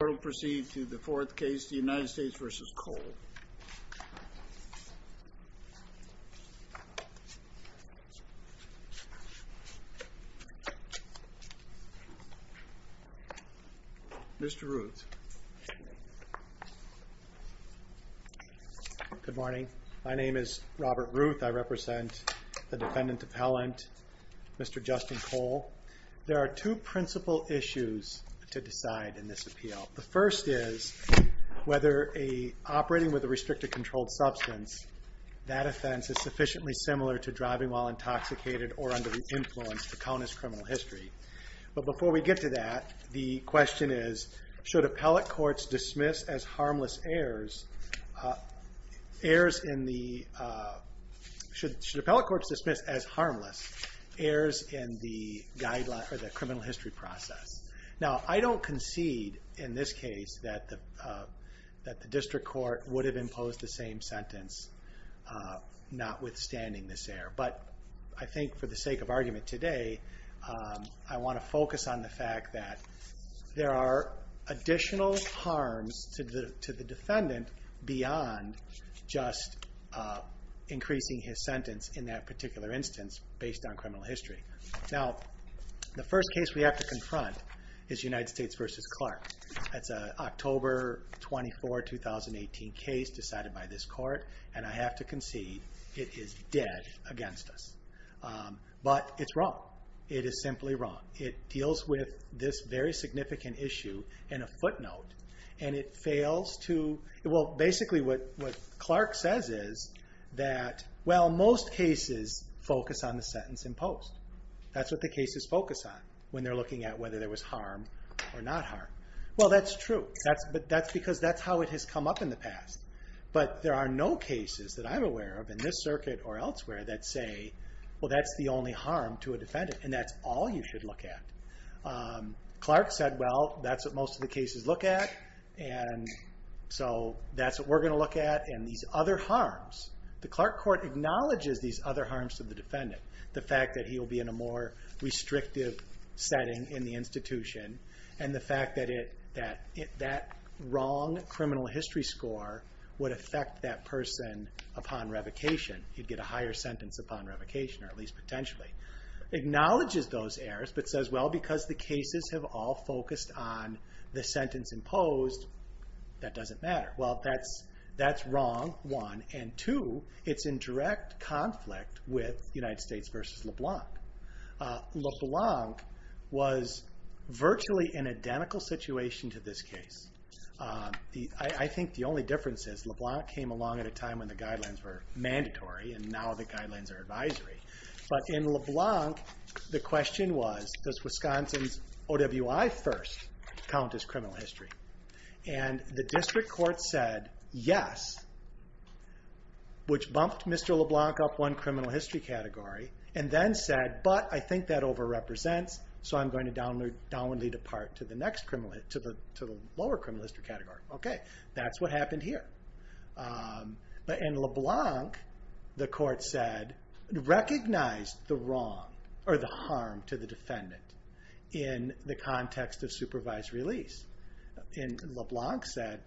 The court will proceed to the fourth case, the United States v. Kohl. Mr. Ruth. Good morning, my name is Robert Ruth, I represent the defendant appellant, Mr. Justin Kohl. There are two principal issues to decide in this appeal. The first is whether operating with a restricted controlled substance, that offense is sufficiently similar to driving while intoxicated or under the influence to count as criminal history. But before we get to that, the question is, should appellate courts dismiss as harmless errs in the criminal history process. Now I don't concede in this case that the district court would have imposed the same sentence notwithstanding this error. But I think for the sake of argument today, I want to focus on the fact that there are additional harms to the defendant beyond just increasing his sentence in that particular instance, based on criminal history. Now, the first case we have to confront is United States v. Clark. That's an October 24, 2018 case decided by this court, and I have to concede it is dead against us. But it's wrong. It is simply wrong. It deals with this very significant issue in a footnote, and it fails to, well basically what Clark says is that, well most cases focus on the sentence in post. That's what the cases focus on when they're looking at whether there was harm or not harm. Well that's true, but that's because that's how it has come up in the past. But there are no cases that I'm aware of in this circuit or elsewhere that say, well that's the only harm to a defendant, and that's all you should look at. Clark said, well that's what most of the cases look at, and so that's what we're going to look at, and these other harms. The Clark court acknowledges these other harms to the defendant. The fact that he will be in a more restrictive setting in the institution, and the fact that that wrong criminal history score would affect that person upon revocation. He'd get a higher sentence upon revocation, or at least potentially. Acknowledges those errors, but says, well because the cases have all focused on the sentence in post, that doesn't matter. Well that's wrong, one, and two, it's in direct conflict with United States versus LeBlanc. LeBlanc was virtually an identical situation to this case. I think the only difference is LeBlanc came along at a time when the guidelines were mandatory, and now the guidelines are advisory. But in LeBlanc, the question was, does Wisconsin's OWI first count as criminal history? And the district court said yes, which bumped Mr. LeBlanc up one criminal history category, and then said, but I think that over represents, so I'm going to downwardly depart to the next criminal history, to the lower criminal history category. Okay, that's what happened here. But in LeBlanc, the court said, recognized the wrong, or the harm to the defendant, in the context of supervised release. In LeBlanc said,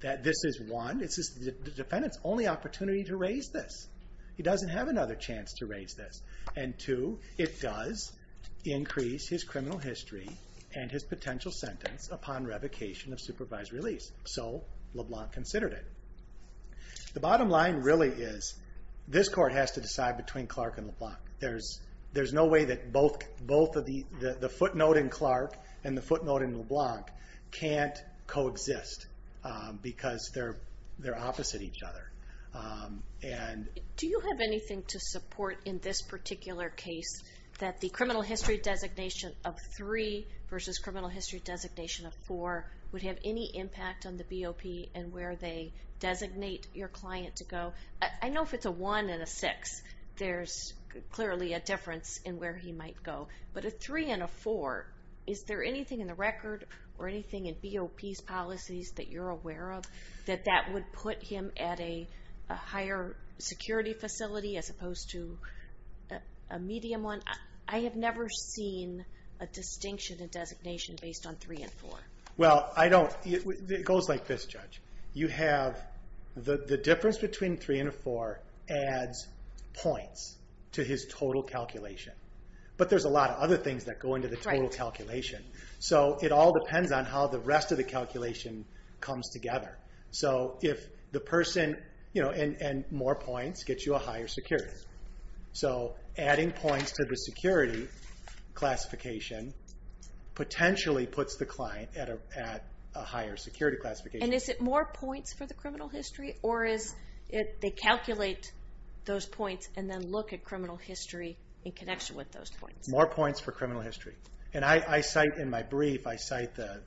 that this is one, it's the defendant's only opportunity to raise this. He doesn't have another chance to raise this. And two, it does increase his criminal history and his potential sentence upon revocation of supervised release. So LeBlanc considered it. The bottom line really is, this court has to decide between Clark and LeBlanc. There's no way that both of the, the footnote in Clark and the footnote in LeBlanc can't coexist because they're opposite each other. Do you have anything to support in this particular case that the criminal history designation of three versus criminal history designation of four would have any impact on the BOP and where they designate your client to go? I know if it's a one and a six, there's clearly a difference in where he might go, but a three and a four, is there anything in the record or anything in BOP's policies that you're aware of that that would put him at a higher security facility as opposed to a medium one? I have never seen a distinction in designation based on three and four. Well, I don't, it goes like this, Judge. You have the difference between three and a four adds points to his total calculation. But there's a lot of other things that go into the total calculation. So it all depends on how the rest of the calculation comes together. So if the person, you know, and more points gets you a higher security. So adding points to the security classification potentially puts the client at a higher security classification. And is it more points for the criminal history, or is it, they calculate those points and then look at criminal history in connection with those points? More points for criminal history. And I cite in my brief, I cite the,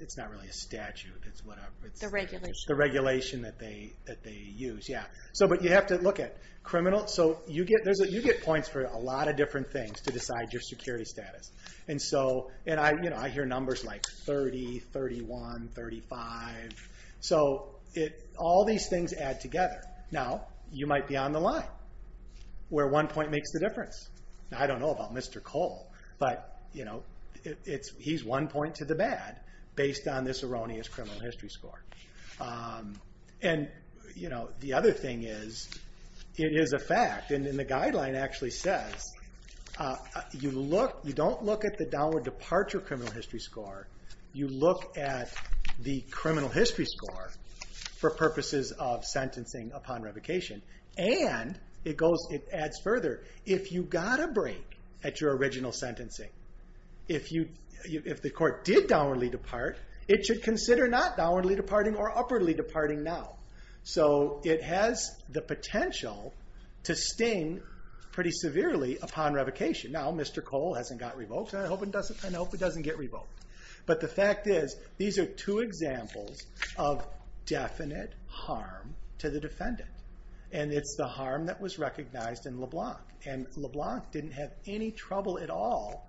it's not really a statute, it's whatever. The regulation. The regulation that they use, yeah. So but you have to look at criminal, so you get points for a lot of different things to decide your security status. And so, and I, you know, I hear numbers like 30, 31, 35. So it, all these things add together. Now you might be on the line where one point makes the difference. I don't know about Mr. Cole, but you know, it's, he's one point to the bad based on this erroneous criminal history score. And, you know, the other thing is, it is a fact, and the guideline actually says, you look, you don't look at the downward departure criminal history score, you look at the criminal history score for purposes of sentencing upon revocation. And it goes, it adds further, if you got a break at your original sentencing, if you, if the court did downwardly depart, it should consider not downwardly departing or upwardly departing now. So it has the potential to sting pretty severely upon revocation. Now Mr. Cole hasn't got revoked, and I hope it doesn't get revoked. But the fact is, these are two examples of definite harm to the defendant. And it's the harm that was recognized in LeBlanc. And LeBlanc didn't have any trouble at all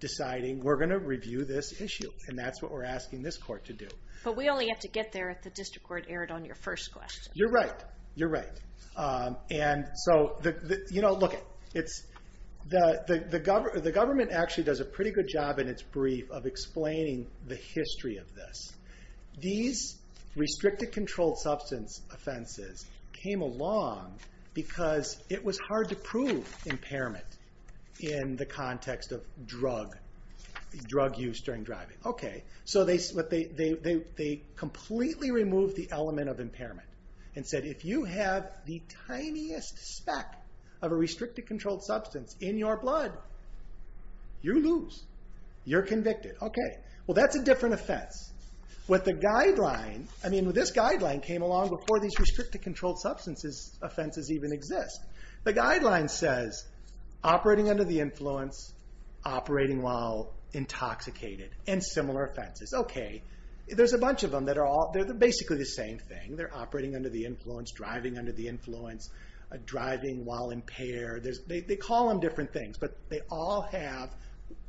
deciding, we're going to review this issue. And that's what we're asking this court to do. But we only have to get there if the district court erred on your first question. You're right. You're right. And so, you know, look, it's, the government actually does a pretty good job in its brief of explaining the history of this. These restricted controlled substance offenses came along because it was hard to prove impairment in the context of drug, drug use during driving. Okay. So they, they completely removed the element of impairment and said, if you have the tiniest speck of a restricted controlled substance in your blood, you lose. You're convicted. Okay. Well, that's a different offense. What the guideline, I mean, this guideline came along before these restricted controlled substances offenses even exist. The guideline says, operating under the influence, operating while intoxicated, and similar offenses. Okay. There's a bunch of them that are all, they're basically the same thing. They're operating under the influence, driving under the influence, driving while impaired. They call them different things, but they all have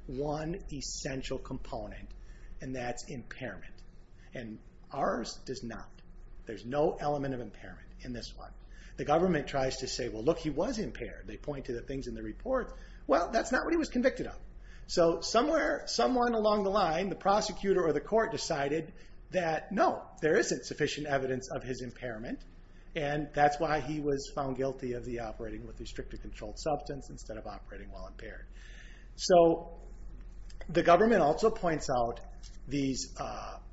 one essential component, and that's impairment. And ours does not. There's no element of impairment in this one. The government tries to say, well, look, he was impaired. They point to the things in the report. Well, that's not what he was convicted of. So somewhere, someone along the line, the prosecutor or the court decided that, no, there isn't sufficient evidence of his impairment, and that's why he was found guilty of the restricted controlled substance instead of operating while impaired. So the government also points out these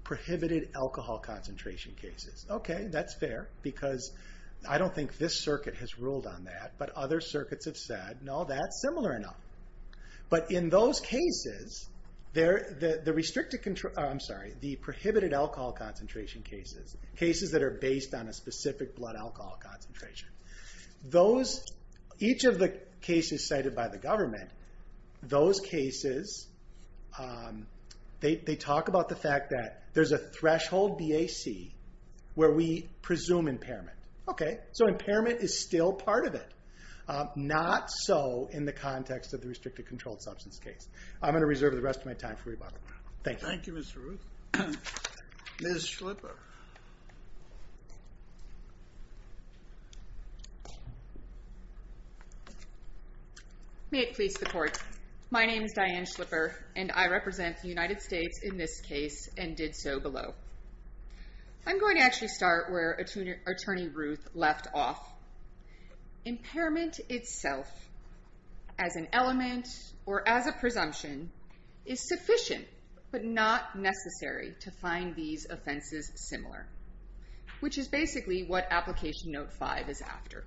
prohibited alcohol concentration cases. Okay, that's fair, because I don't think this circuit has ruled on that, but other circuits have said, no, that's similar enough. But in those cases, the restricted, I'm sorry, the prohibited alcohol concentration cases, cases that are based on a specific blood alcohol concentration. Those, each of the cases cited by the government, those cases, they talk about the fact that there's a threshold BAC where we presume impairment. Okay, so impairment is still part of it, not so in the context of the restricted controlled substance case. I'm going to reserve the rest of my time for rebuttal. Thank you. Thank you, Ms. Ruth. Ms. Schlipper. May it please the court, my name is Diane Schlipper, and I represent the United States in this case and did so below. I'm going to actually start where Attorney Ruth left off. Impairment itself, as an element or as a presumption, is sufficient but not necessary to find these offenses similar, which is basically what Application Note 5 is after.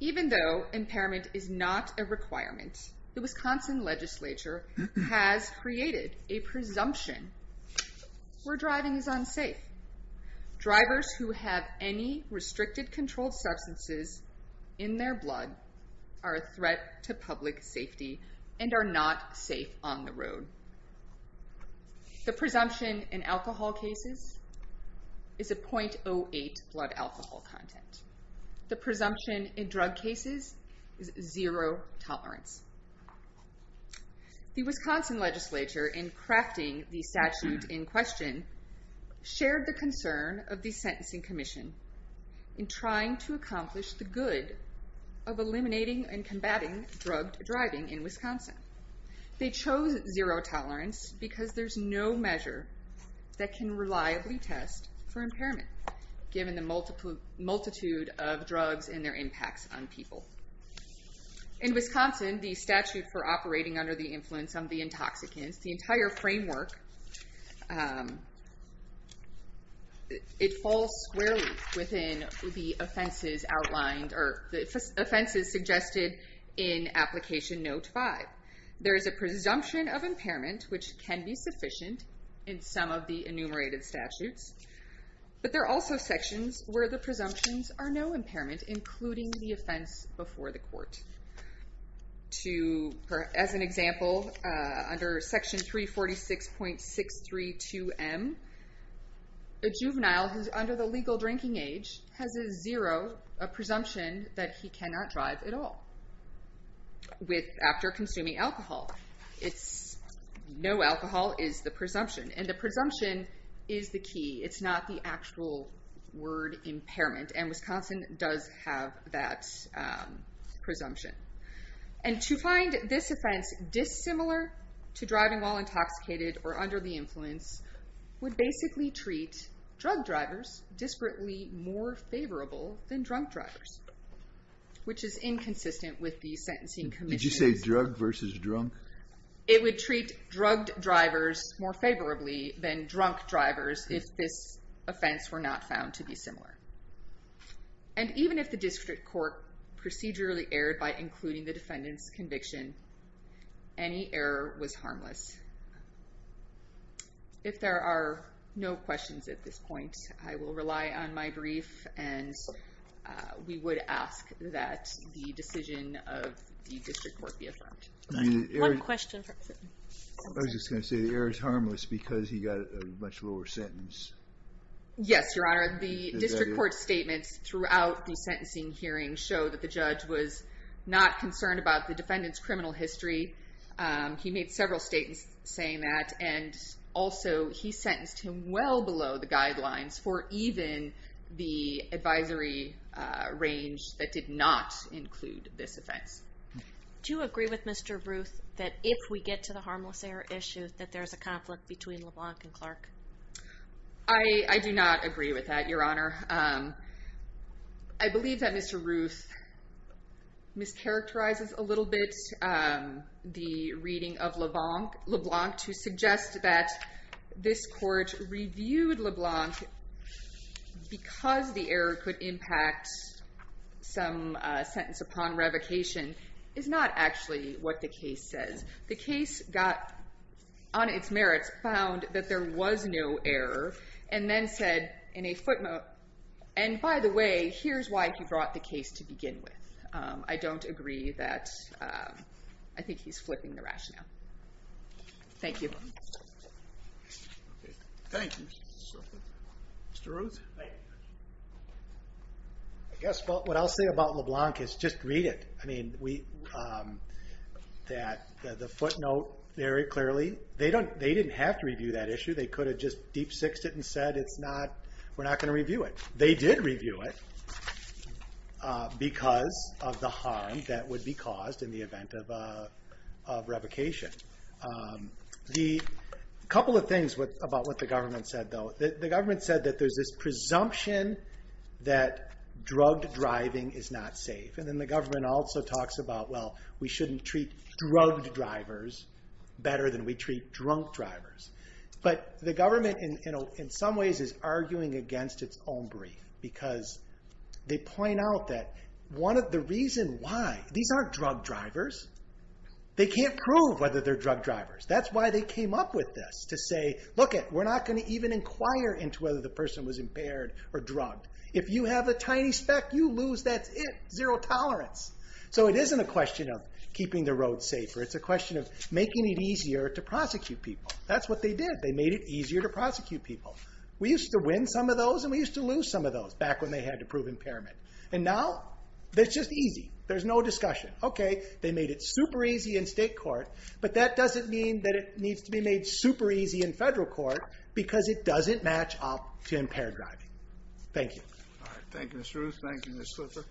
Even though impairment is not a requirement, the Wisconsin legislature has created a presumption where driving is unsafe. Drivers who have any restricted controlled substances in their blood are a threat to public safety and are not safe on the road. The presumption in alcohol cases is a .08 blood alcohol content. The presumption in drug cases is zero tolerance. The Wisconsin legislature, in crafting the statute in question, shared the concern of the Sentencing Commission in trying to accomplish the good of eliminating and combating drugged driving in Wisconsin. They chose zero tolerance because there's no measure that can reliably test for impairment given the multitude of drugs and their impacts on people. In Wisconsin, the statute for operating under the influence of the intoxicants, the entire framework, it falls squarely within the offenses outlined or the offenses suggested in Application Note 5. There is a presumption of impairment, which can be sufficient in some of the enumerated statutes, but there are also sections where the presumptions are no impairment, including the offense before the court. As an example, under Section 346.632M, a juvenile who's under the legal drinking age has a zero, a presumption that he cannot drive at all after consuming alcohol. No alcohol is the presumption, and the presumption is the key. It's not the actual word impairment, and Wisconsin does have that presumption. And to find this offense dissimilar to driving while intoxicated or under the influence would basically treat drugged drivers disparately more favorable than drunk drivers, which is inconsistent with the Sentencing Commission. Did you say drugged versus drunk? It would treat drugged drivers more favorably than drunk drivers if this offense were not found to be similar. And even if the district court procedurally erred by including the defendant's conviction, any error was harmless. If there are no questions at this point, I will rely on my brief, and we would ask that the decision of the district court be affirmed. One question. I was just going to say, the error is harmless because he got a much lower sentence. Yes, Your Honor. The district court statements throughout the sentencing hearing show that the judge was not concerned about the defendant's criminal history. He made several statements saying that, and also he sentenced him well below the guidelines for even the advisory range that did not include this offense. Do you agree with Mr. Ruth that if we get to the harmless error issue, that there is a conflict between LeBlanc and Clark? I do not agree with that, Your Honor. I believe that Mr. Ruth mischaracterizes a little bit the reading of LeBlanc to suggest that this court reviewed LeBlanc because the error could impact some sentence upon revocation is not actually what the case says. The case got, on its merits, found that there was no error, and then said in a footnote, and by the way, here's why he brought the case to begin with. I don't agree that, I think he's flipping the rationale. Thank you. Thank you. Mr. Ruth? I guess what I'll say about LeBlanc is just read it. I mean, the footnote very clearly, they didn't have to review that issue. They could have just deep-sixed it and said, we're not going to review it. They did review it because of the harm that would be caused in the event of revocation. A couple of things about what the government said, though. The government said that there's this presumption that drugged driving is not safe, and then the government also talks about, well, we shouldn't treat drugged drivers better than we treat drunk drivers. But the government, in some ways, is arguing against its own brief, because they point out that the reason why, these aren't drugged drivers. They can't prove whether they're drugged drivers. That's why they came up with this, to say, lookit, we're not going to even inquire into whether the person was impaired or drugged. If you have a tiny speck, you lose, that's it. Zero tolerance. So it isn't a question of keeping the road safer. It's a question of making it easier to prosecute people. That's what they did. They made it easier to prosecute people. We used to win some of those, and we used to lose some of those, back when they had to prove impairment. And now, it's just easy. There's no discussion. Okay, they made it super easy in state court, but that doesn't mean that it needs to be made super easy in federal court, because it doesn't match up to impaired driving. Thank you. All right. Thank you, Mr. Ruth. Thank you, Ms. Slipher.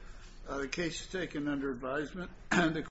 The case is taken under advisement.